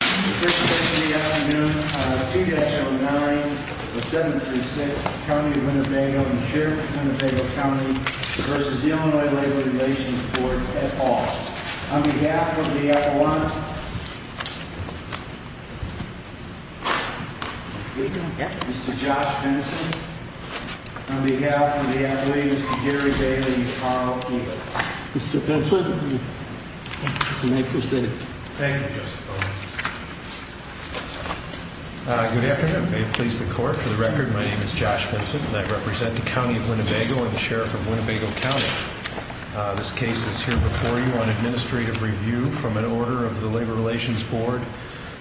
This is the afternoon of 2-09-736 County of Winnebago and Sheriff's of Winnebago County v. Illinois Labor Relations Board at all. On behalf of the Appellant, Mr. Josh Fenson. On behalf of the Athlete, Mr. Gary Bailey and Carl Keeler. Mr. Fenson, you may proceed. Thank you, Mr. Fenson. Good afternoon. May it please the Court, for the record, my name is Josh Fenson and I represent the County of Winnebago and the Sheriff of Winnebago County. This case is here before you on administrative review from an order of the Labor Relations Board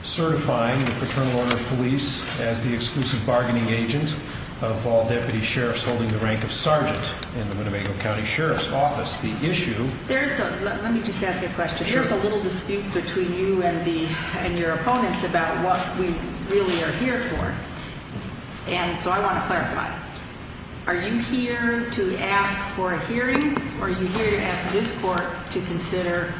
certifying the Fraternal Order of Police as the exclusive bargaining agent of all Deputy Sheriffs holding the rank of Sergeant in the Winnebago County Sheriff's Office. Let me just ask you a question. There's a little dispute between you and your opponents about what we really are here for and so I want to clarify. Are you here to ask for a hearing or are you here to ask this Court to consider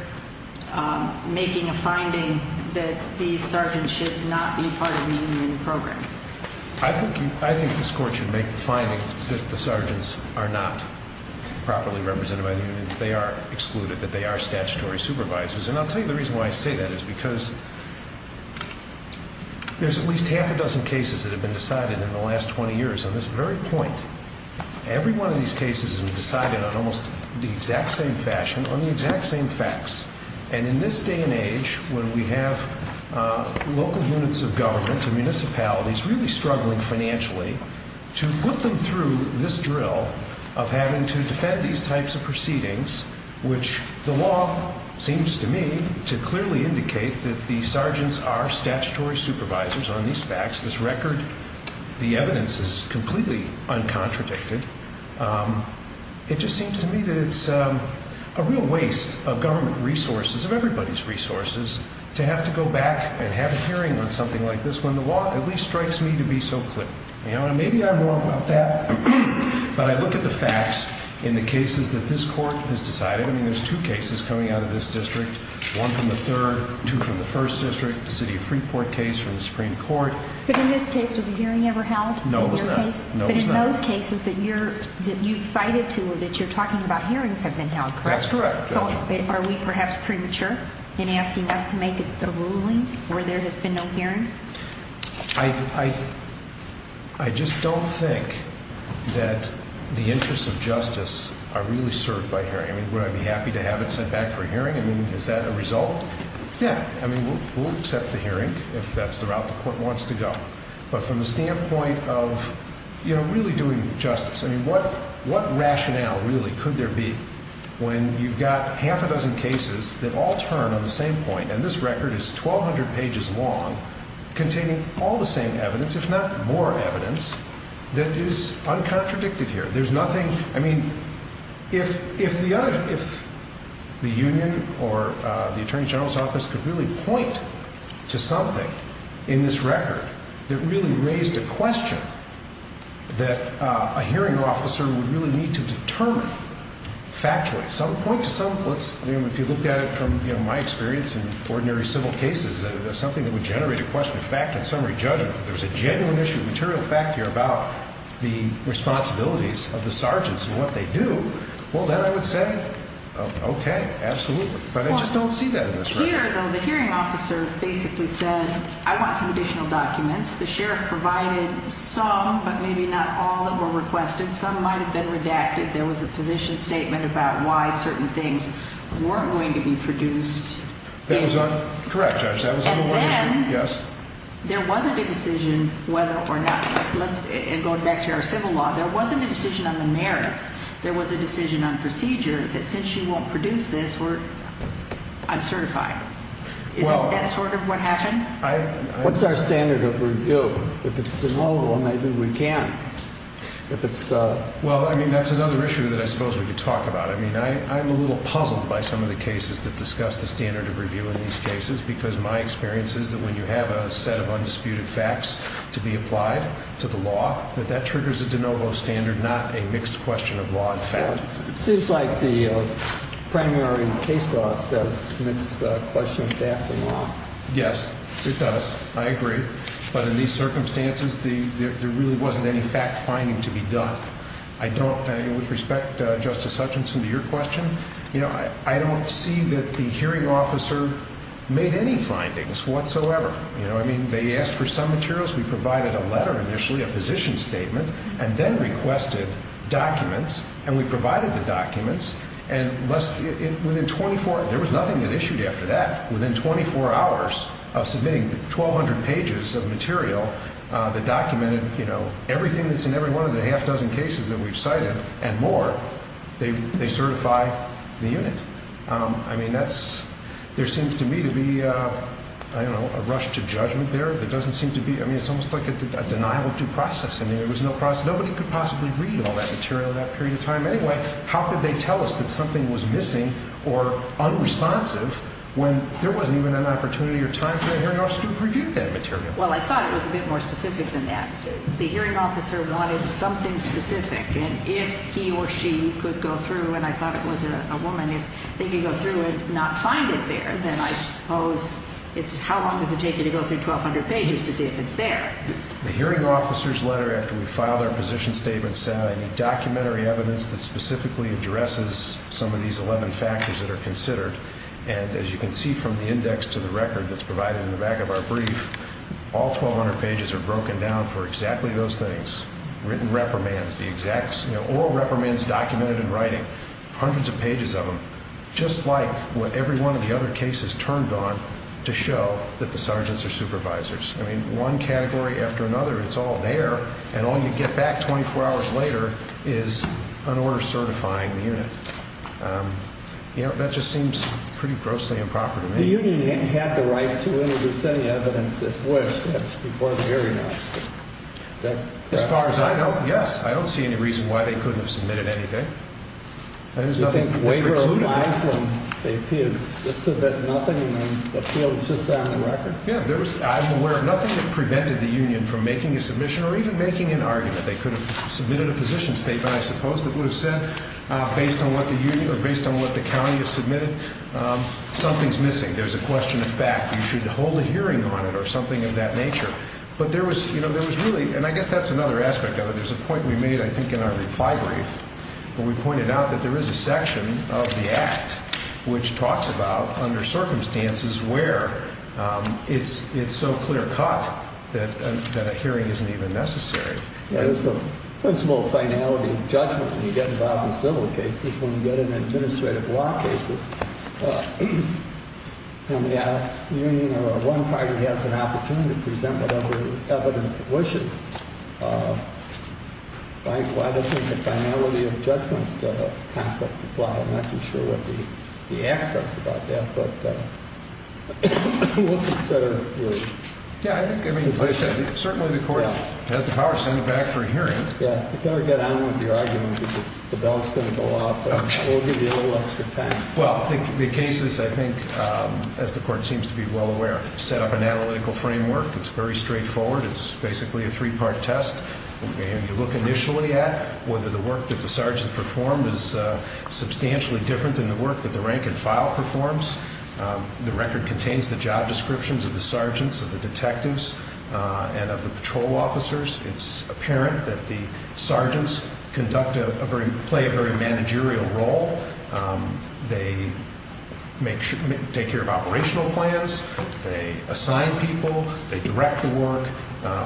making a finding that these sergeants should not be part of the union program? I think this Court should make the finding that the sergeants are not properly represented by the union, that they are excluded, that they are statutory supervisors. And I'll tell you the reason why I say that is because there's at least half a dozen cases that have been decided in the last 20 years. On this very point, every one of these cases have been decided on almost the exact same fashion, on the exact same facts. And in this day and age, when we have local units of government and municipalities really struggling financially, to put them through this drill of having to defend these types of proceedings, which the law seems to me to clearly indicate that the sergeants are statutory supervisors on these facts, this record, the evidence is completely uncontradicted, it just seems to me that it's a real waste of government resources, of everybody's resources, to have to go back and have a hearing on something like this when the law at least strikes me to be so clear. And maybe I'm wrong about that, but I look at the facts in the cases that this Court has decided. I mean, there's two cases coming out of this district, one from the 3rd, two from the 1st district, the City of Freeport case from the Supreme Court. But in this case, was a hearing ever held? No, it was not. But in those cases that you've cited to, that you're talking about, hearings have been held, correct? That's correct. So are we perhaps premature in asking us to make a ruling where there has been no hearing? I just don't think that the interests of justice are really served by hearing. I mean, would I be happy to have it sent back for a hearing? I mean, is that a result? Yeah. I mean, we'll accept the hearing if that's the route the Court wants to go. But from the standpoint of, you know, really doing justice, I mean, what rationale really could there be when you've got half a dozen cases that all turn on the same point, and this record is 1,200 pages long, containing all the same evidence, if not more evidence, that is uncontradicted here? There's nothing, I mean, if the Union or the Attorney General's office could really point to something in this record that really raised a question that a hearing officer would really need to determine factually. If you looked at it from my experience in ordinary civil cases, something that would generate a question of fact and summary judgment, if there was a genuine issue of material fact here about the responsibilities of the sergeants and what they do, well, then I would say, okay, absolutely. But I just don't see that in this record. Here, though, the hearing officer basically said, I want some additional documents. The sheriff provided some, but maybe not all, that were requested. Some might have been redacted. There was a position statement about why certain things weren't going to be produced. That was correct, Judge. And then there wasn't a decision whether or not, going back to our civil law, there wasn't a decision on the merits. There was a decision on procedure that since you won't produce this, I'm certified. Is that sort of what happened? What's our standard of review? If it's denial, well, maybe we can. Well, I mean, that's another issue that I suppose we could talk about. I mean, I'm a little puzzled by some of the cases that discuss the standard of review in these cases because my experience is that when you have a set of undisputed facts to be applied to the law, that that triggers a de novo standard, not a mixed question of law and facts. It seems like the primary case law says it's a question of fact and law. Yes, it does. I agree. But in these circumstances, there really wasn't any fact finding to be done. With respect, Justice Hutchinson, to your question, I don't see that the hearing officer made any findings whatsoever. I mean, they asked for some materials. We provided a letter initially, a position statement, and then requested documents, and we provided the documents. There was nothing that issued after that. Within 24 hours of submitting 1,200 pages of material that documented everything that's in every one of the half dozen cases that we've cited and more, they certify the unit. I mean, there seems to me to be a rush to judgment there. I mean, it's almost like a denial of due process. I mean, there was no process. Nobody could possibly read all that material in that period of time anyway. How could they tell us that something was missing or unresponsive when there wasn't even an opportunity or time for the hearing officer to review that material? Well, I thought it was a bit more specific than that. The hearing officer wanted something specific, and if he or she could go through, and I thought it was a woman, if they could go through and not find it there, then I suppose it's how long does it take you to go through 1,200 pages to see if it's there? The hearing officer's letter, after we filed our position statement, said I need documentary evidence that specifically addresses some of these 11 factors that are considered. And as you can see from the index to the record that's provided in the back of our brief, all 1,200 pages are broken down for exactly those things. Written reprimands, the exact oral reprimands documented in writing, hundreds of pages of them, just like what every one of the other cases turned on to show that the sergeants are supervisors. I mean, one category after another, it's all there, and all you get back 24 hours later is an order certifying the unit. You know, that just seems pretty grossly improper to me. The union didn't have the right to introduce any evidence it wished before the hearing officer. As far as I know, yes. I don't see any reason why they couldn't have submitted anything. I think there's nothing precluding that. Do you think Wager or Lislin, they appeared to submit nothing and then appealed just on the record? Yeah, I'm aware of nothing that prevented the union from making a submission or even making an argument. They could have submitted a position statement, I suppose, that would have said, based on what the county has submitted, something's missing. There's a question of fact. You should hold a hearing on it or something of that nature. But there was, you know, there was really, and I guess that's another aspect of it. There's a point we made, I think, in our reply brief where we pointed out that there is a section of the Act which talks about under circumstances where it's so clear cut that a hearing isn't even necessary. Yeah, there's a principle of finality of judgment when you get involved in civil cases. When you get in administrative law cases, you know, the union or one party has an opportunity to present whatever evidence it wishes. Why doesn't the finality of judgment concept apply? I'm not too sure what the access about that, but we'll consider it. Yeah, I think, I mean, as I said, certainly the Court has the power to send it back for a hearing. Yeah, you better get on with your argument because the bell's going to go off and we'll give you a little extra time. Well, the cases, I think, as the Court seems to be well aware, set up an analytical framework. It's very straightforward. It's basically a three-part test. You look initially at whether the work that the sergeant performed is substantially different than the work that the rank and file performs. The record contains the job descriptions of the sergeants, of the detectives, and of the patrol officers. It's apparent that the sergeants conduct a very, play a very managerial role. They take care of operational plans. They assign people. They direct the work.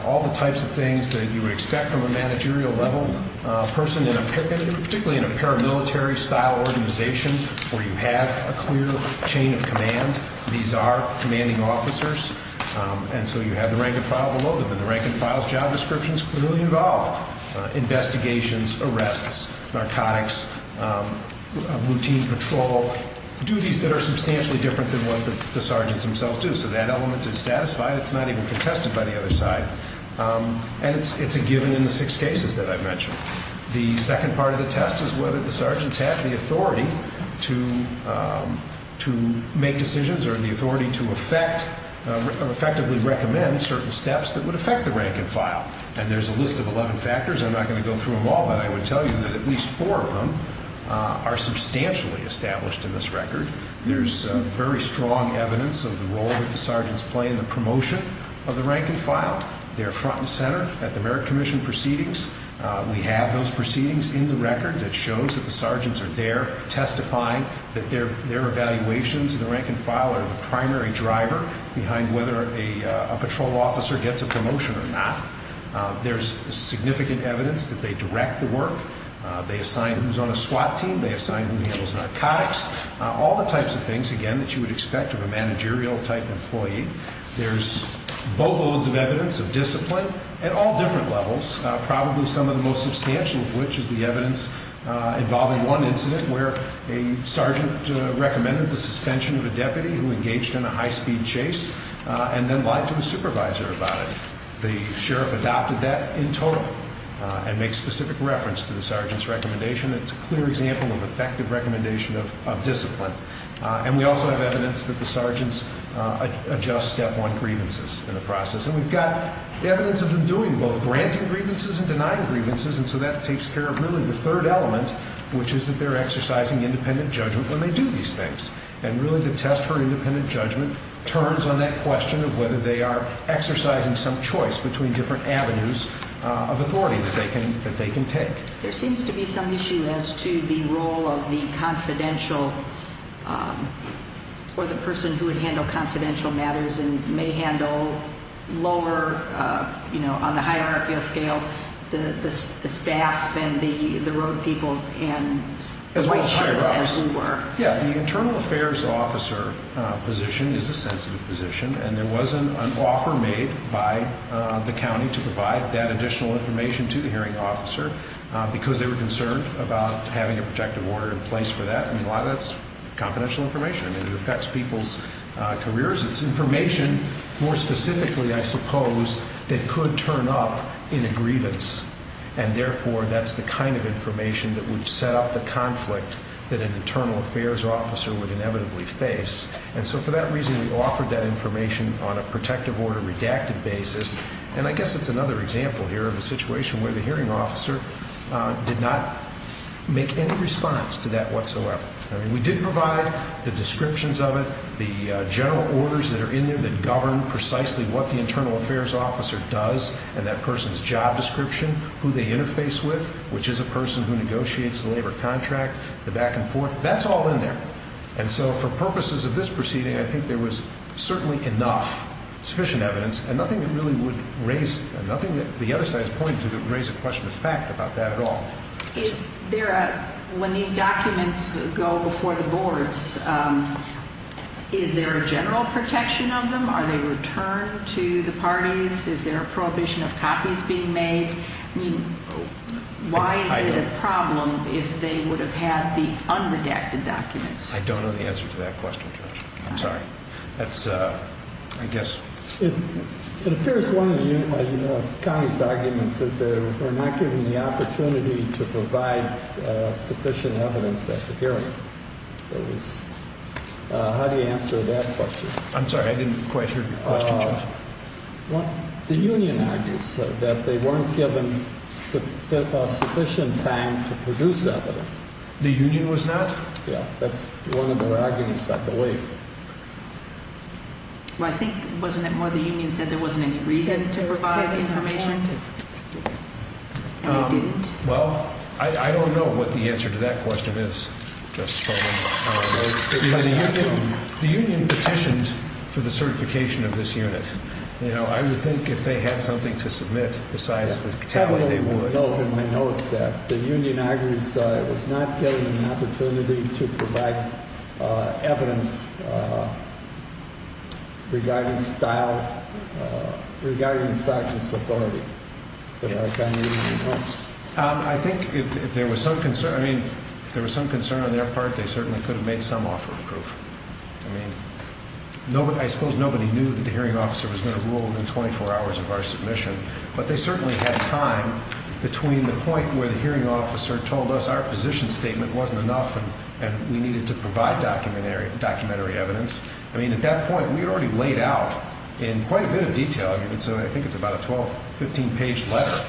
All the types of things that you would expect from a managerial level person, particularly in a paramilitary-style organization where you have a clear chain of command. These are commanding officers, and so you have the rank and file below them. The rank and file's job descriptions clearly involve investigations, arrests, narcotics, routine patrol, duties that are substantially different than what the sergeants themselves do. So that element is satisfied. It's not even contested by the other side, and it's a given in the six cases that I've mentioned. The second part of the test is whether the sergeants have the authority to make decisions or the authority to effectively recommend certain steps that would affect the rank and file. And there's a list of 11 factors. I'm not going to go through them all, but I would tell you that at least four of them are substantially established in this record. There's very strong evidence of the role that the sergeants play in the promotion of the rank and file. They're front and center at the Merit Commission proceedings. We have those proceedings in the record that shows that the sergeants are there testifying, that their evaluations of the rank and file are the primary driver behind whether a patrol officer gets a promotion or not. There's significant evidence that they direct the work. They assign who's on a SWAT team. They assign who handles narcotics. All the types of things, again, that you would expect of a managerial-type employee. There's boatloads of evidence of discipline at all different levels, probably some of the most substantial of which is the evidence involving one incident where a sergeant recommended the suspension of a deputy who engaged in a high-speed chase and then lied to the supervisor about it. The sheriff adopted that in total and makes specific reference to the sergeant's recommendation. It's a clear example of effective recommendation of discipline. And we also have evidence that the sergeants adjust step one grievances in the process. And we've got evidence of them doing both granting grievances and denying grievances, and so that takes care of really the third element, which is that they're exercising independent judgment when they do these things. And really the test for independent judgment turns on that question of whether they are exercising some choice between different avenues of authority that they can take. There seems to be some issue as to the role of the confidential or the person who would handle confidential matters and may handle lower, you know, on the hierarchical scale, the staff and the road people and the white shirts as we were. Yeah, the internal affairs officer position is a sensitive position, and there was an offer made by the county to provide that additional information to the hearing officer because they were concerned about having a protective order in place for that. And a lot of that's confidential information, and it affects people's careers. It's information more specifically, I suppose, that could turn up in a grievance, and therefore that's the kind of information that would set up the conflict that an internal affairs officer would inevitably face. And so for that reason, we offered that information on a protective order redacted basis. And I guess it's another example here of a situation where the hearing officer did not make any response to that whatsoever. I mean, we did provide the descriptions of it, the general orders that are in there that govern precisely what the internal affairs officer does and that person's job description, who they interface with, which is a person who negotiates the labor contract, the back and forth. That's all in there. And so for purposes of this proceeding, I think there was certainly enough sufficient evidence and nothing that really would raise – nothing that the other side is pointing to that would raise a question of fact about that at all. Is there a – when these documents go before the boards, is there a general protection of them? Are they returned to the parties? Is there a prohibition of copies being made? I mean, why is it a problem if they would have had the unredacted documents? I don't know the answer to that question, Judge. I'm sorry. It appears one of the county's arguments is that we're not given the opportunity to provide sufficient evidence at the hearing. How do you answer that question? I'm sorry. I didn't quite hear your question, Judge. The union argues that they weren't given sufficient time to produce evidence. The union was not? Yeah. That's one of their arguments, I believe. Well, I think – wasn't it more the union said there wasn't any reason to provide information? And they didn't. Well, I don't know what the answer to that question is, Judge Spalding. The union petitioned for the certification of this unit. You know, I would think if they had something to submit besides the – No, no, no. I know it's that. The union argues it was not given an opportunity to provide evidence regarding style, regarding suchness of authority. I think if there was some concern – I mean, if there was some concern on their part, they certainly could have made some offer of proof. I mean, I suppose nobody knew that the hearing officer was going to rule in 24 hours of our submission. But they certainly had time between the point where the hearing officer told us our position statement wasn't enough and we needed to provide documentary evidence. I mean, at that point, we had already laid out in quite a bit of detail – I think it's about a 12, 15-page letter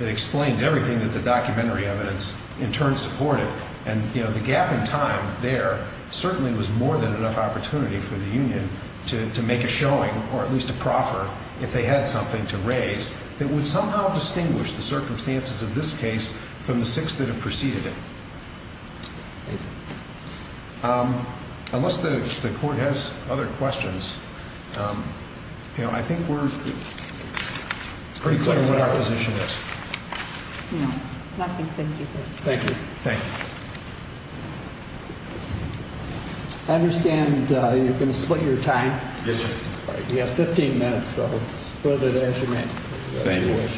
that explains everything that the documentary evidence in turn supported. And, you know, the gap in time there certainly was more than enough opportunity for the union to make a showing or at least a proffer if they had something to raise that would somehow distinguish the circumstances of this case from the six that have preceded it. Unless the court has other questions, you know, I think we're pretty clear what our position is. No. Nothing. Thank you. Thank you. I understand you're going to split your time. Yes, sir. All right. You have 15 minutes, so split it as you may. Thank you. As you wish.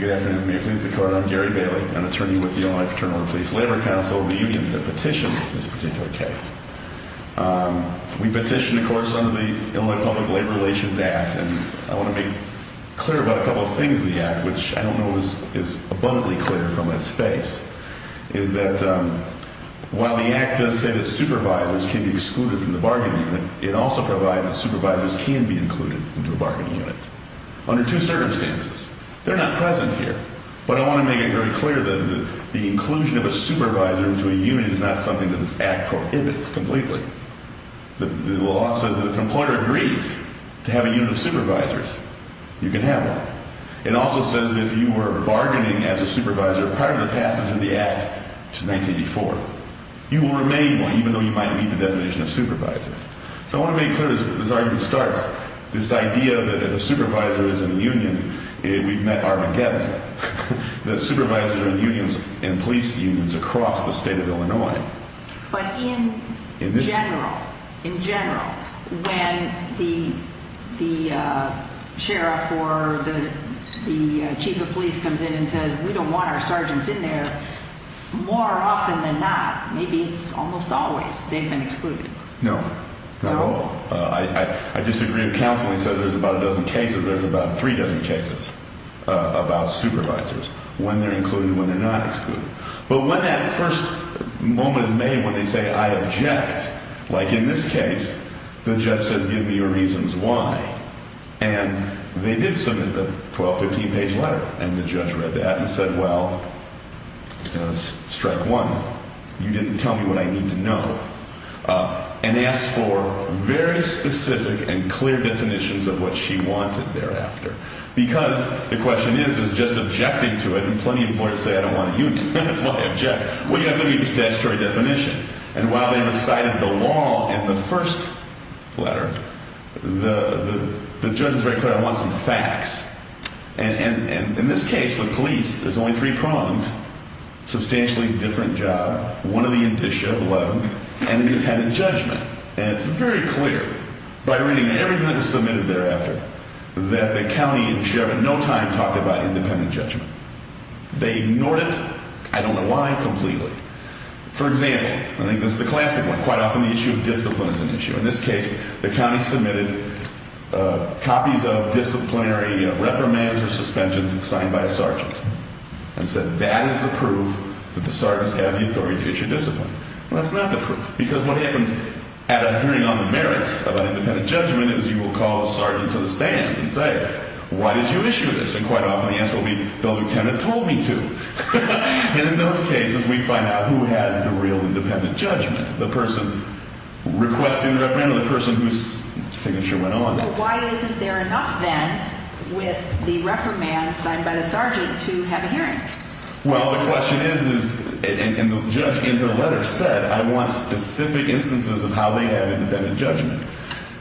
Good afternoon. May it please the Court, I'm Gary Bailey, an attorney with the Illinois Fraternal and Police Labor Council and the union that petitioned this particular case. We petitioned, of course, under the Illinois Public Labor Relations Act, and I want to make clear about a couple of things in the Act, which I don't know is abundantly clear from its face, is that while the Act does say that supervisors can be excluded from the bargaining unit, it also provides that supervisors can be included into a bargaining unit under two circumstances. They're not present here, but I want to make it very clear that the inclusion of a supervisor into a union is not something that this Act prohibits completely. The law says that if an employer agrees to have a unit of supervisors, you can have one. It also says if you were bargaining as a supervisor prior to the passage of the Act, which is 1984, you will remain one, even though you might meet the definition of supervisor. So I want to make clear, as this argument starts, this idea that if a supervisor is in a union, we've met Armageddon, that supervisors are in unions and police unions across the state of Illinois. But in general, in general, when the sheriff or the chief of police comes in and says, we don't want our sergeants in there, more often than not, maybe it's almost always, they've been excluded. No, not at all. I disagree with counsel. It says there's about a dozen cases. There's about three dozen cases about supervisors, when they're included, when they're not excluded. But when that first moment is made when they say, I object, like in this case, the judge says, give me your reasons why. And they did submit a 12-, 15-page letter, and the judge read that and said, well, you know, strike one, you didn't tell me what I need to know. And asked for very specific and clear definitions of what she wanted thereafter. Because the question is, is just objecting to it, and plenty of lawyers say, I don't want a union. That's why I object. Well, you have to give me the statutory definition. And while they recited the law in the first letter, the judge was very clear, I want some facts. And in this case, with police, there's only three prongs. Substantially different job, one of the indicia, 11, and you've had a judgment. And it's very clear, by reading everything that was submitted thereafter, that the county and sheriff in no time talked about independent judgment. They ignored it. I don't know why. Completely. For example, I think this is the classic one. Quite often the issue of discipline is an issue. In this case, the county submitted copies of disciplinary reprimands or suspensions signed by a sergeant. And said, that is the proof that the sergeants have the authority to issue discipline. Well, that's not the proof. Because what happens at a hearing on the merits of an independent judgment is you will call a sergeant to the stand and say, why did you issue this? And quite often the answer will be, the lieutenant told me to. And in those cases, we find out who has the real independent judgment. The person requesting the reprimand or the person whose signature went on. Well, why isn't there enough then with the reprimand signed by the sergeant to have a hearing? Well, the question is, and the judge in her letter said, I want specific instances of how they have independent judgment.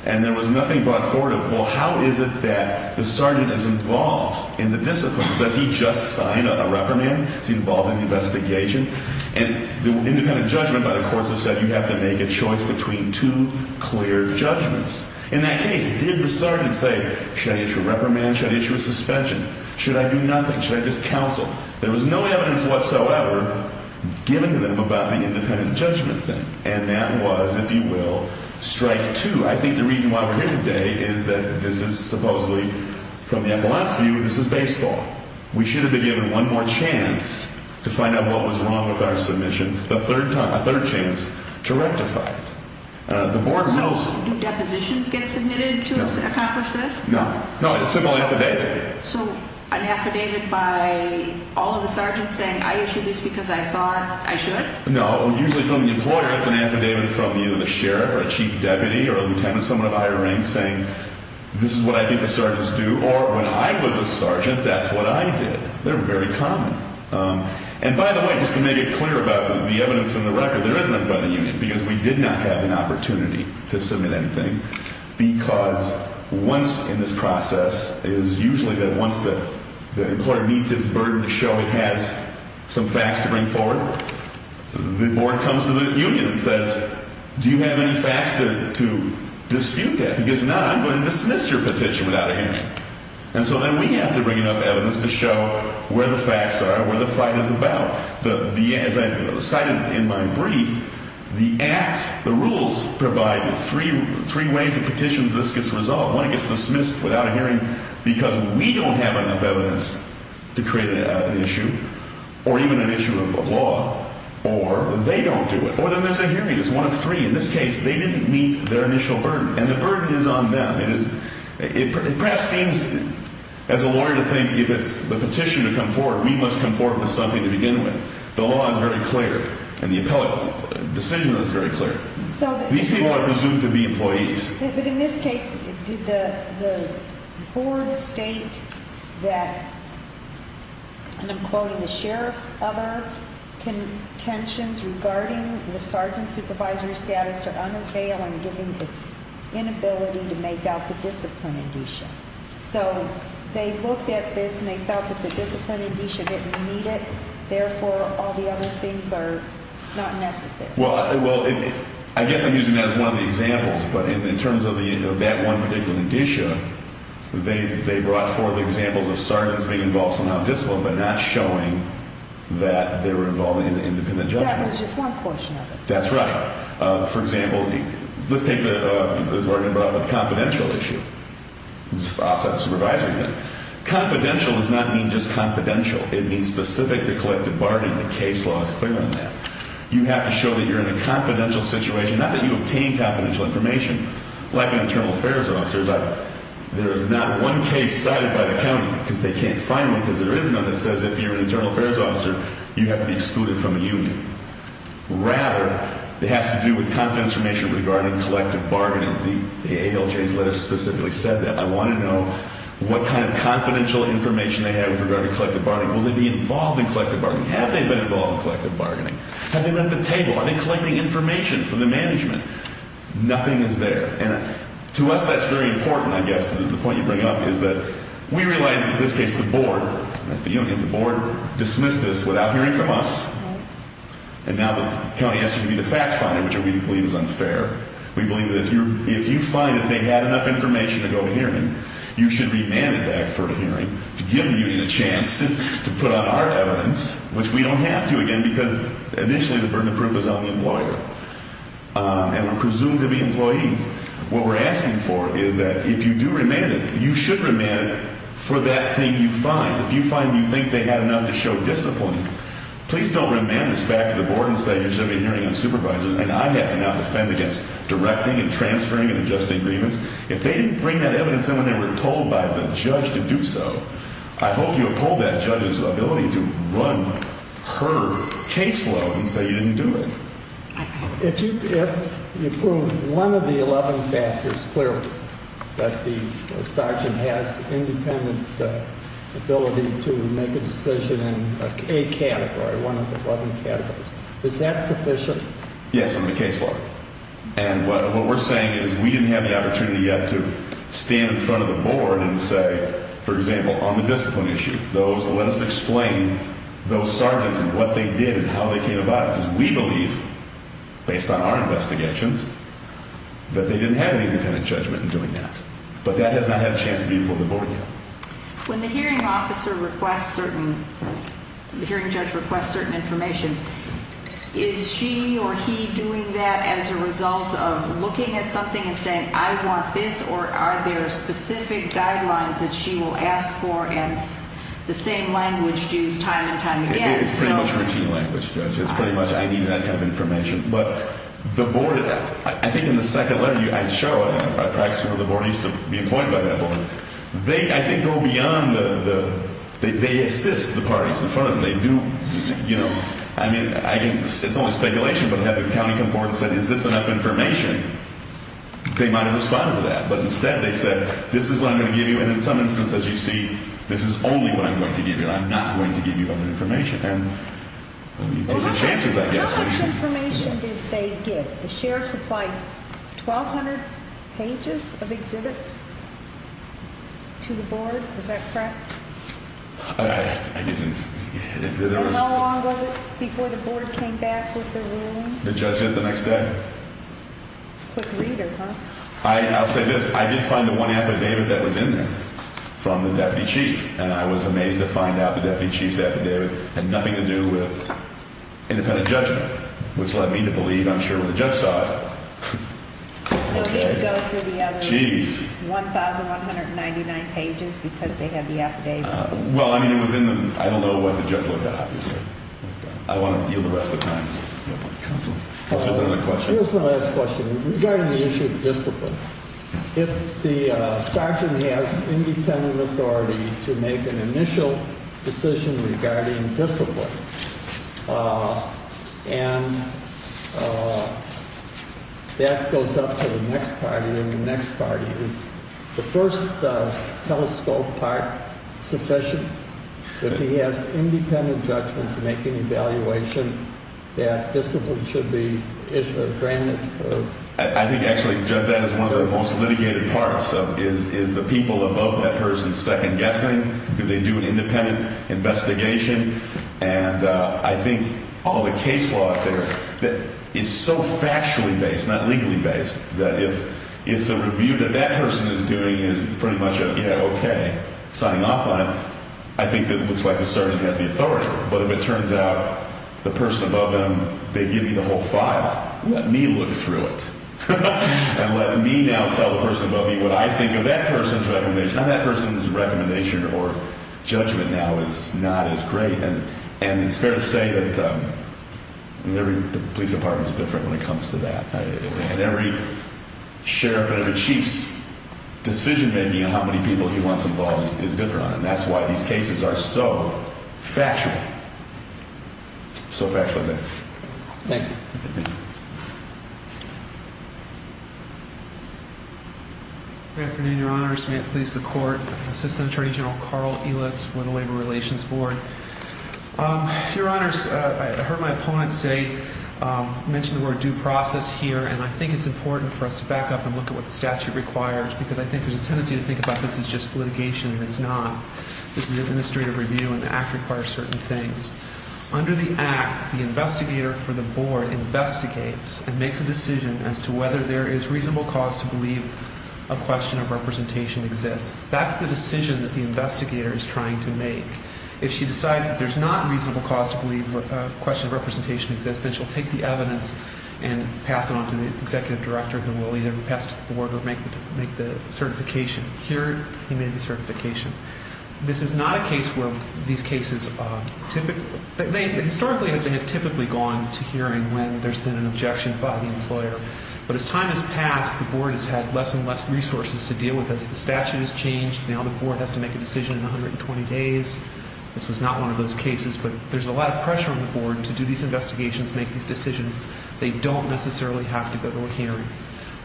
And there was nothing brought forward of, well, how is it that the sergeant is involved in the discipline? Does he just sign a reprimand? Is he involved in the investigation? And the independent judgment by the courts have said you have to make a choice between two clear judgments. In that case, did the sergeant say, should I issue a reprimand? Should I issue a suspension? Should I do nothing? Should I just counsel? There was no evidence whatsoever given to them about the independent judgment thing. And that was, if you will, strike two. I think the reason why we're here today is that this is supposedly, from the ambulance view, this is baseball. We should have been given one more chance to find out what was wrong with our submission, a third chance to rectify it. Do depositions get submitted to accomplish this? No. No, it's simply affidavit. So an affidavit by all of the sergeants saying, I issued this because I thought I should? No, usually from the employer, it's an affidavit from either the sheriff or a chief deputy or a lieutenant, someone of higher rank, saying, this is what I think the sergeants do, or when I was a sergeant, that's what I did. They're very common. And by the way, just to make it clear about the evidence in the record, there is none by the union, because we did not have an opportunity to submit anything, because once in this process, it is usually that once the employer meets its burden to show it has some facts to bring forward, the board comes to the union and says, do you have any facts to dispute that? Because if not, I'm going to dismiss your petition without a hearing. And so then we have to bring enough evidence to show where the facts are, where the fight is about. As I cited in my brief, the Act, the rules provide three ways a petition gets resolved. One, it gets dismissed without a hearing, because we don't have enough evidence to create an issue or even an issue of law. Or they don't do it. Or then there's a hearing. It's one of three. In this case, they didn't meet their initial burden. And the burden is on them. It perhaps seems, as a lawyer, to think if it's the petition to come forward, we must come forward with something to begin with. The law is very clear, and the appellate decision is very clear. These people are presumed to be employees. But in this case, did the board state that, and I'm quoting the sheriff's other contentions, regarding the sergeant's supervisory status or undertale and given its inability to make out the discipline addition? So they looked at this and they felt that the discipline addition didn't meet it. Therefore, all the other things are not necessary. Well, I guess I'm using that as one of the examples. But in terms of that one particular addition, they brought forth examples of sergeants being involved somehow in discipline but not showing that they were involved in the independent judgment. That was just one portion of it. That's right. For example, let's take the sergeant brought up with the confidential issue, outside the supervisory thing. Confidential does not mean just confidential. It means specific to collective bargaining. The case law is clear on that. You have to show that you're in a confidential situation, not that you obtain confidential information, like an internal affairs officer. There is not one case cited by the county because they can't find one because there is none that says if you're an internal affairs officer, you have to be excluded from a union. Rather, it has to do with confidential information regarding collective bargaining. The ALJ's letter specifically said that. I want to know what kind of confidential information they have with regard to collective bargaining. Will they be involved in collective bargaining? Have they been involved in collective bargaining? Have they left the table? Are they collecting information from the management? Nothing is there. And to us, that's very important, I guess. The point you bring up is that we realize that in this case the board, the union, the board dismissed this without hearing from us. And now the county has to be the fact finder, which we believe is unfair. We believe that if you find that they had enough information to go to hearing, you should remand it back for a hearing to give the union a chance to put on our evidence, which we don't have to again because initially the burden of proof is on the employer. And we're presumed to be employees. What we're asking for is that if you do remand it, you should remand it for that thing you find. If you find you think they had enough to show discipline, please don't remand this back to the board and say you should have been hearing on supervisors and I have to now defend against directing and transferring and adjusting agreements. If they didn't bring that evidence in when they were told by the judge to do so, I hope you uphold that judge's ability to run her caseload and say you didn't do it. If you prove one of the 11 factors clearly that the sergeant has independent ability to make a decision in a category, one of the 11 categories, is that sufficient? Yes, in the caseload. And what we're saying is we didn't have the opportunity yet to stand in front of the board and say, for example, on the discipline issue, let us explain those sergeants and what they did and how they came about it. Because we believe, based on our investigations, that they didn't have any independent judgment in doing that. But that has not had a chance to be before the board yet. When the hearing officer requests certain – the hearing judge requests certain information, is she or he doing that as a result of looking at something and saying I want this or are there specific guidelines that she will ask for and the same language used time and time again? It's pretty much routine language, Judge. It's pretty much I need that kind of information. But the board – I think in the second letter, I show it. I practice with the board. I used to be appointed by that board. They, I think, go beyond the – they assist the parties in front of them. They do – I mean, it's only speculation, but to have the county come forward and say is this enough information? They might have responded to that, but instead they said this is what I'm going to give you and in some instances you see this is only what I'm going to give you. I'm not going to give you other information. Well, how much information did they give? The sheriff supplied 1,200 pages of exhibits to the board. Is that correct? I didn't – And how long was it before the board came back with their ruling? The judge did it the next day. Quick reader, huh? I'll say this. I did find the one affidavit that was in there from the deputy chief, and I was amazed to find out the deputy chief's affidavit had nothing to do with independent judgment, which led me to believe, I'm sure, when the judge saw it. Okay. So you go through the other 1,199 pages because they had the affidavit? Well, I mean, it was in the – I don't know what the judge looked at, obviously. I want to yield the rest of the time. Counselor. Counselor, another question. Here's my last question. Regarding the issue of discipline, if the sergeant has independent authority to make an initial decision regarding discipline, and that goes up to the next party, and the next party is the first telescope part sufficient, if he has independent judgment to make an evaluation, that discipline should be granted? I think actually that is one of the most litigated parts, is the people above that person second-guessing? Do they do an independent investigation? And I think all the case law out there is so factually based, not legally based, that if the review that that person is doing is pretty much a, yeah, okay, signing off on it, I think it looks like the sergeant has the authority. But if it turns out the person above them, they give you the whole file. Let me look through it and let me now tell the person above me what I think of that person's recommendation. And that person's recommendation or judgment now is not as great. And it's fair to say that every police department is different when it comes to that. And every sheriff and every chief's decision-making on how many people he wants involved is different. And that's why these cases are so factual, so factually based. Thank you. Good afternoon, Your Honors. May it please the Court. Assistant Attorney General Carl Elitz with the Labor Relations Board. Your Honors, I heard my opponent mention the word due process here, and I think it's important for us to back up and look at what the statute requires, because I think there's a tendency to think about this as just litigation, and it's not. This is administrative review, and the Act requires certain things. Under the Act, the investigator for the board investigates and makes a decision as to whether there is reasonable cause to believe a question of representation exists. That's the decision that the investigator is trying to make. If she decides that there's not reasonable cause to believe a question of representation exists, then she'll take the evidence and pass it on to the executive director, who will either pass it to the board or make the certification. Here, he made the certification. This is not a case where these cases typically – historically, they have typically gone to hearing when there's been an objection by the employer. But as time has passed, the board has had less and less resources to deal with this. The statute has changed. Now the board has to make a decision in 120 days. This was not one of those cases, but there's a lot of pressure on the board to do these investigations, make these decisions. They don't necessarily have to go to a hearing.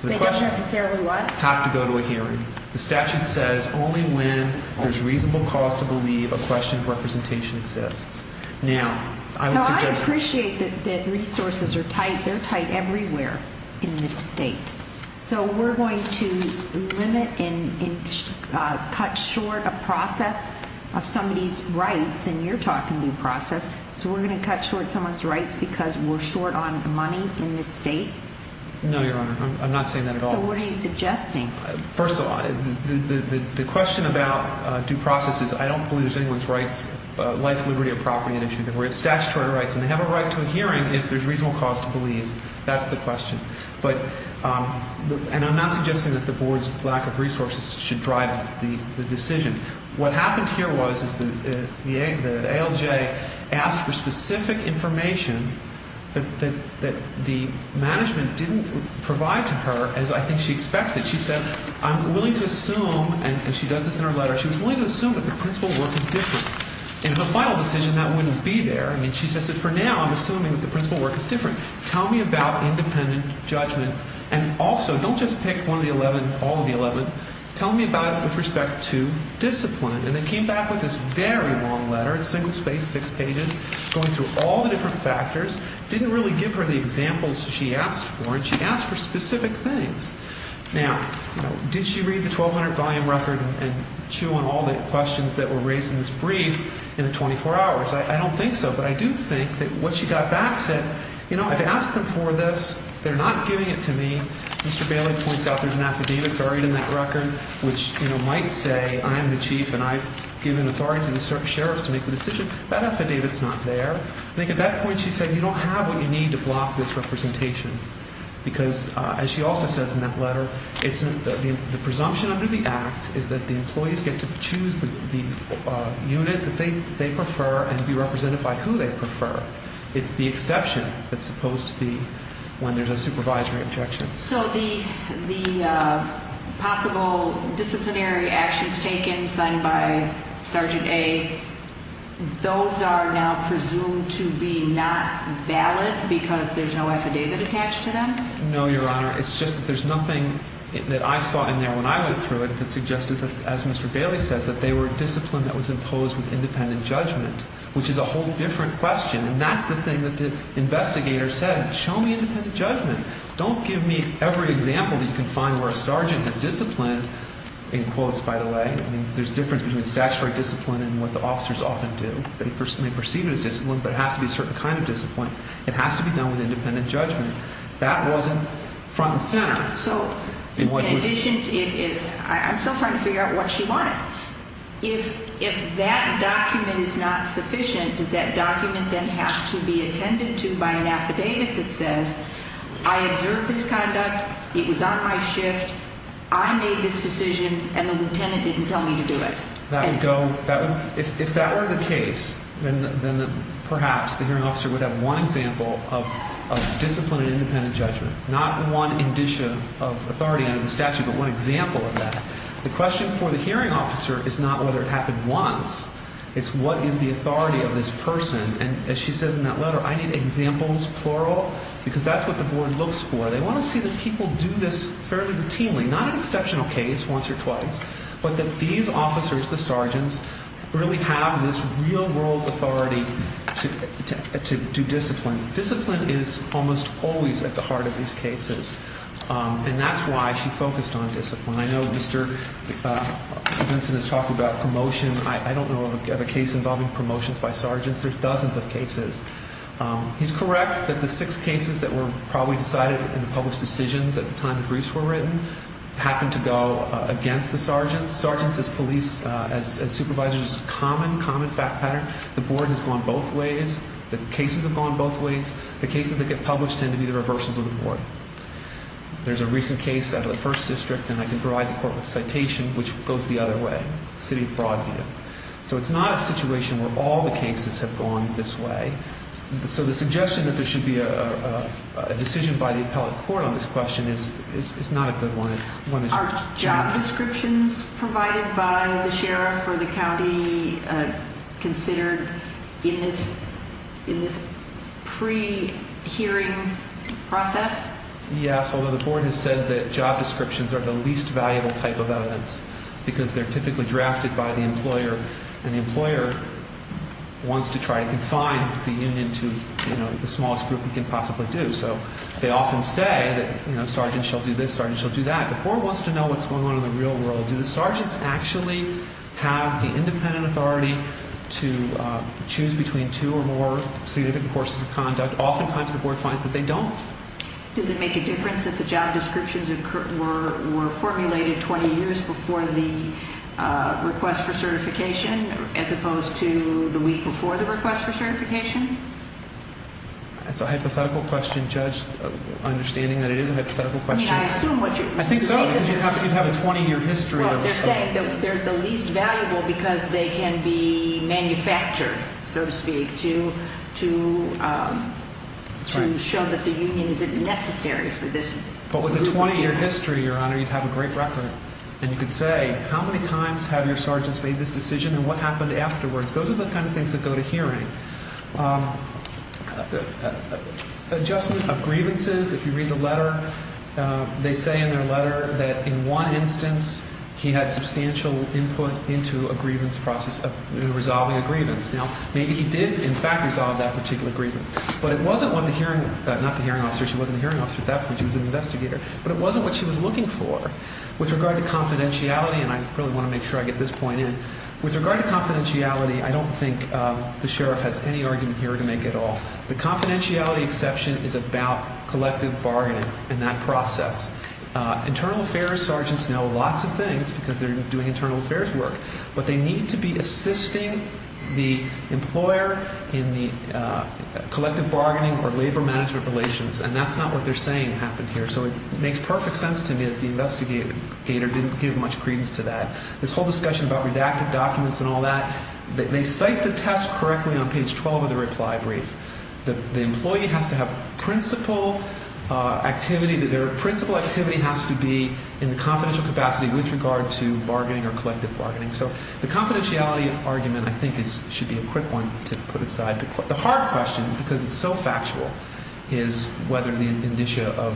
They don't necessarily what? Have to go to a hearing. The statute says only when there's reasonable cause to believe a question of representation exists. Now, I would suggest – No, I appreciate that resources are tight. They're tight everywhere in this state. So we're going to limit and cut short a process of somebody's rights, and you're talking due process, so we're going to cut short someone's rights because we're short on money in this state? No, Your Honor, I'm not saying that at all. So what are you suggesting? First of all, the question about due process is I don't believe there's anyone's rights, life, liberty, or property at issue. We have statutory rights, and they have a right to a hearing if there's reasonable cause to believe. That's the question. And I'm not suggesting that the Board's lack of resources should drive the decision. What happened here was the ALJ asked for specific information that the management didn't provide to her, as I think she expected. She said, I'm willing to assume, and she does this in her letter, she was willing to assume that the principal work is different. In the final decision, that wouldn't be there. I mean, she says that for now, I'm assuming that the principal work is different. Tell me about independent judgment. And also, don't just pick one of the 11, all of the 11. Tell me about it with respect to discipline. And they came back with this very long letter. It's single-spaced, six pages, going through all the different factors. Didn't really give her the examples she asked for, and she asked for specific things. Now, did she read the 1,200-volume record and chew on all the questions that were raised in this brief in the 24 hours? I don't think so. But I do think that what she got back said, you know, I've asked them for this. They're not giving it to me. Mr. Bailey points out there's an affidavit buried in that record which, you know, might say I'm the chief and I've given authority to the sheriff's to make the decision. That affidavit's not there. I think at that point she said, you don't have what you need to block this representation. Because, as she also says in that letter, the presumption under the act is that the employees get to choose the unit that they prefer and be represented by who they prefer. It's the exception that's supposed to be when there's a supervisory objection. So the possible disciplinary actions taken, signed by Sergeant A, those are now presumed to be not valid because there's no affidavit attached to them? No, Your Honor. It's just that there's nothing that I saw in there when I went through it that suggested that, as Mr. Bailey says, that they were a discipline that was imposed with independent judgment, which is a whole different question. And that's the thing that the investigator said. Show me independent judgment. Don't give me every example that you can find where a sergeant is disciplined, in quotes, by the way. I mean, there's a difference between statutory discipline and what the officers often do. They perceive it as discipline, but it has to be a certain kind of discipline. It has to be done with independent judgment. That wasn't front and center. So in addition, I'm still trying to figure out what she wanted. If that document is not sufficient, does that document then have to be attended to by an affidavit that says, I observed this conduct, it was on my shift, I made this decision, and the lieutenant didn't tell me to do it? If that were the case, then perhaps the hearing officer would have one example of disciplined independent judgment, not one indicia of authority under the statute, but one example of that. The question for the hearing officer is not whether it happened once. It's what is the authority of this person. And as she says in that letter, I need examples, plural, because that's what the board looks for. They want to see that people do this fairly routinely, not an exceptional case once or twice, but that these officers, the sergeants, really have this real-world authority to do discipline. Discipline is almost always at the heart of these cases, and that's why she focused on discipline. I know Mr. Benson is talking about promotion. I don't know of a case involving promotions by sergeants. There's dozens of cases. He's correct that the six cases that were probably decided in the published decisions at the time the briefs were written happened to go against the sergeants. Sergeants as police, as supervisors, common, common fact pattern. The board has gone both ways. The cases have gone both ways. The cases that get published tend to be the reversals of the board. There's a recent case out of the first district, and I can provide the court with a citation, which goes the other way, City of Broadview. So it's not a situation where all the cases have gone this way. So the suggestion that there should be a decision by the appellate court on this question is not a good one. Are job descriptions provided by the sheriff or the county considered in this pre-hearing process? Yes, although the board has said that job descriptions are the least valuable type of evidence because they're typically drafted by the employer, and the employer wants to try to confine the union to the smallest group it can possibly do. So they often say that, you know, sergeants shall do this, sergeants shall do that. The board wants to know what's going on in the real world. Do the sergeants actually have the independent authority to choose between two or more significant courses of conduct? Oftentimes the board finds that they don't. Does it make a difference that the job descriptions were formulated 20 years before the request for certification as opposed to the week before the request for certification? That's a hypothetical question, Judge, understanding that it is a hypothetical question. I mean, I assume what you're saying is... I think so, because you'd have a 20-year history. Well, they're saying that they're the least valuable because they can be manufactured, so to speak, to show that the union isn't necessary for this group of people. But with a 20-year history, Your Honor, you'd have a great record. And you could say, how many times have your sergeants made this decision and what happened afterwards? Those are the kind of things that go to hearing. Adjustment of grievances. If you read the letter, they say in their letter that in one instance he had substantial input into a grievance process, resolving a grievance. Now, maybe he did, in fact, resolve that particular grievance. But it wasn't when the hearing, not the hearing officer. She wasn't a hearing officer at that point. She was an investigator. But it wasn't what she was looking for. With regard to confidentiality, and I really want to make sure I get this point in, with regard to confidentiality, I don't think the sheriff has any argument here to make at all. The confidentiality exception is about collective bargaining and that process. Internal affairs sergeants know lots of things because they're doing internal affairs work. But they need to be assisting the employer in the collective bargaining or labor management relations. And that's not what they're saying happened here. So it makes perfect sense to me that the investigator didn't give much credence to that. This whole discussion about redacted documents and all that, they cite the test correctly on page 12 of the reply brief. The employee has to have principal activity. Their principal activity has to be in the confidential capacity with regard to bargaining or collective bargaining. So the confidentiality argument, I think, should be a quick one to put aside. The hard question, because it's so factual, is whether the indicia of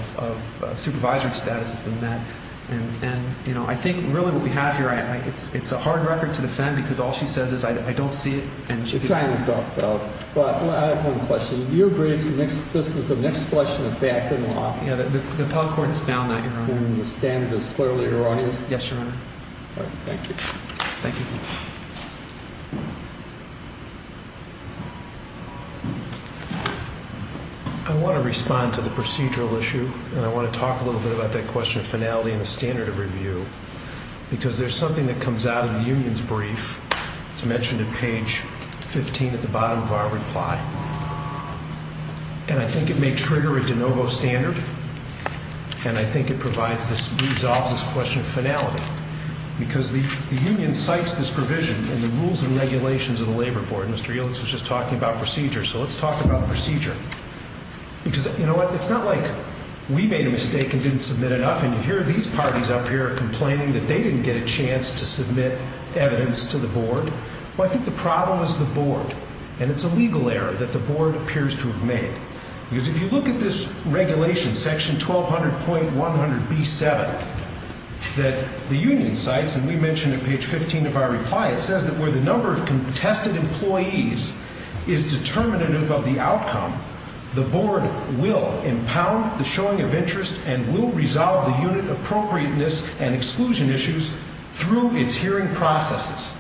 supervisory status has been met. And, you know, I think really what we have here, it's a hard record to defend because all she says is I don't see it. But I have one question. Your briefs, this is the next question of fact and law. Yeah, the appellate court has found that, Your Honor. And the standard is clearly erroneous? Yes, Your Honor. All right, thank you. Thank you. I want to respond to the procedural issue, and I want to talk a little bit about that question of finality and the standard of review, because there's something that comes out of the union's brief. It's mentioned at page 15 at the bottom of our reply. And I think it may trigger a de novo standard, and I think it resolves this question of finality, because the union cites this provision in the rules and regulations of the Labor Board. Mr. Yeltsin was just talking about procedure, so let's talk about procedure. Because, you know what, it's not like we made a mistake and didn't submit enough, and you hear these parties up here complaining that they didn't get a chance to submit evidence to the board. Well, I think the problem is the board, and it's a legal error that the board appears to have made. Because if you look at this regulation, section 1200.100B7, that the union cites, and we mentioned at page 15 of our reply, it says that where the number of contested employees is determinative of the outcome, the board will impound the showing of interest and will resolve the unit appropriateness and exclusion issues through its hearing processes.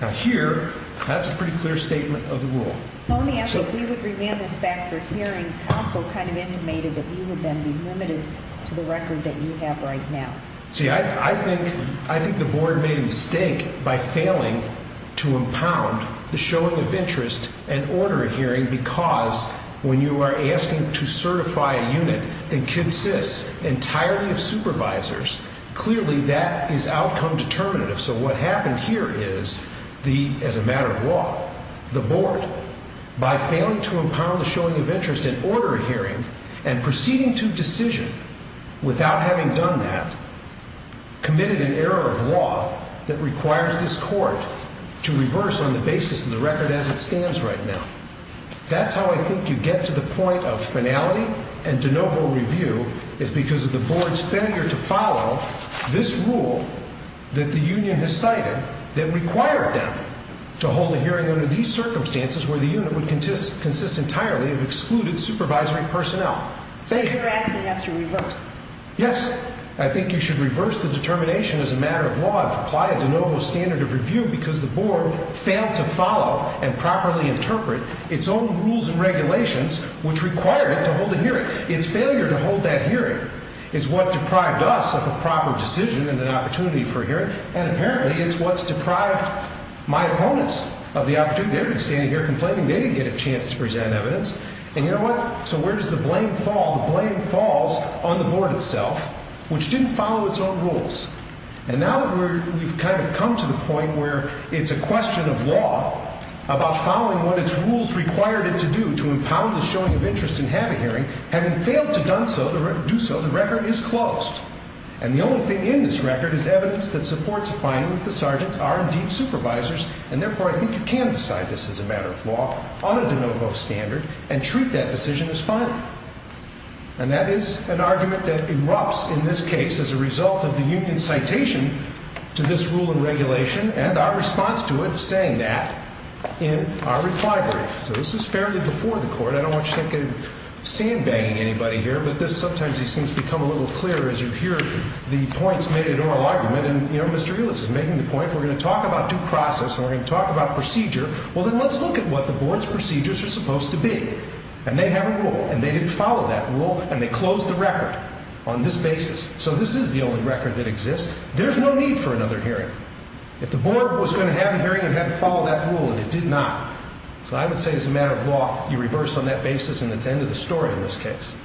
Now, here, that's a pretty clear statement of the rule. If we would revamp this back for hearing, also kind of intimated that you would then be limited to the record that you have right now. See, I think the board made a mistake by failing to impound the showing of interest and order a hearing because when you are asking to certify a unit that consists entirely of supervisors, clearly that is outcome determinative. So what happened here is, as a matter of law, the board, by failing to impound the showing of interest and order a hearing and proceeding to decision without having done that, committed an error of law that requires this court to reverse on the basis of the record as it stands right now. That's how I think you get to the point of finality and de novo review, is because of the board's failure to follow this rule that the union has cited that required them to hold a hearing under these circumstances where the unit would consist entirely of excluded supervisory personnel. So you're asking us to reverse? Yes. I think you should reverse the determination as a matter of law and apply a de novo standard of review because the board failed to follow and properly interpret its own rules and regulations which required it to hold a hearing. Its failure to hold that hearing is what deprived us of a proper decision and an opportunity for a hearing and apparently it's what's deprived my opponents of the opportunity. They've been standing here complaining they didn't get a chance to present evidence. And you know what? So where does the blame fall? The blame falls on the board itself, which didn't follow its own rules. And now that we've kind of come to the point where it's a question of law about following what its rules required it to do to empower the showing of interest in having a hearing, having failed to do so, the record is closed. And the only thing in this record is evidence that supports a finding that the sergeants are indeed supervisors and therefore I think you can decide this is a matter of law on a de novo standard and treat that decision as final. And that is an argument that erupts in this case as a result of the union's citation to this rule and regulation and our response to it saying that in our reply brief. So this is fairly before the court. I don't want you to think I'm sandbagging anybody here. But this sometimes seems to become a little clearer as you hear the points made in oral argument. And you know, Mr. Eulitz is making the point we're going to talk about due process and we're going to talk about procedure. Well then let's look at what the board's procedures are supposed to be. And they have a rule and they didn't follow that rule and they closed the record on this basis. So this is the only record that exists. There's no need for another hearing. If the board was going to have a hearing it had to follow that rule and it did not. So I would say it's a matter of law. You reverse on that basis and it's the end of the story in this case.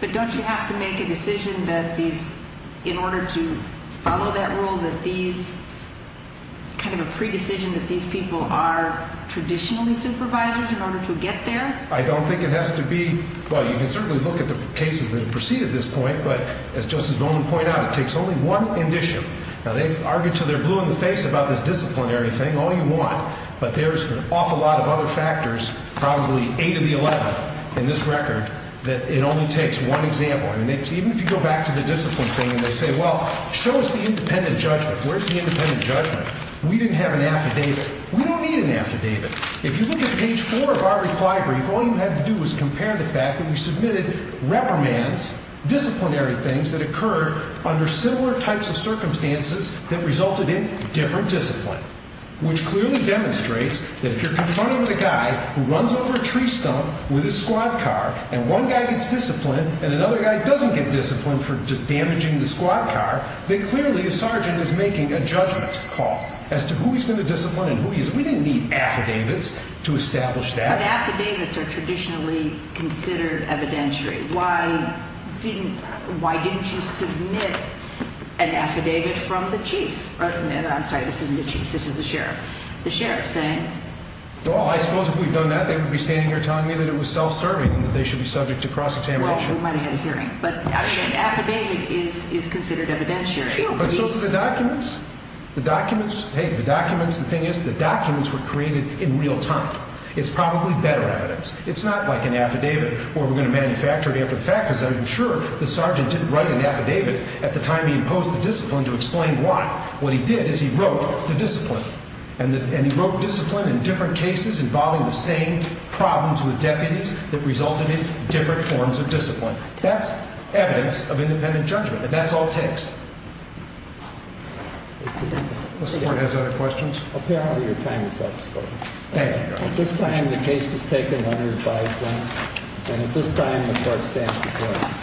But don't you have to make a decision that these, in order to follow that rule that these, kind of a pre-decision that these people are traditionally supervisors in order to get there? I don't think it has to be. Well, you can certainly look at the cases that have preceded this point. But as Justice Bowman pointed out, it takes only one condition. Now they've argued until they're blue in the face about this disciplinary thing all you want. But there's an awful lot of other factors, probably 8 of the 11 in this record, that it only takes one example. And even if you go back to the discipline thing and they say, well, show us the independent judgment. Where's the independent judgment? We didn't have an affidavit. We don't need an affidavit. If you look at page 4 of our reply brief, all you had to do was compare the fact that we submitted reprimands, disciplinary things that occurred under similar types of circumstances that resulted in different discipline. Which clearly demonstrates that if you're confronting a guy who runs over a tree stump with his squad car and one guy gets discipline and another guy doesn't get discipline for damaging the squad car, then clearly a sergeant is making a judgment call as to who he's going to discipline and who he is. We didn't need affidavits to establish that. But affidavits are traditionally considered evidentiary. Why didn't you submit an affidavit from the chief? I'm sorry, this isn't the chief, this is the sheriff. The sheriff saying? Well, I suppose if we'd done that, they would be standing here telling me that it was self-serving and that they should be subject to cross-examination. Well, we might have had a hearing. But an affidavit is considered evidentiary. But so are the documents. The documents, the thing is, the documents were created in real time. It's probably better evidence. It's not like an affidavit where we're going to manufacture it after the fact because I'm sure the sergeant didn't write an affidavit at the time he imposed the discipline to explain why. What he did is he wrote the discipline. And he wrote discipline in different cases involving the same problems with deputies that resulted in different forms of discipline. That's evidence of independent judgment. And that's all it takes. This court has other questions? Apparently, your time is up, sir. Thank you, Your Honor. At this time, the case has taken 105 minutes. And at this time, the court stands adjourned.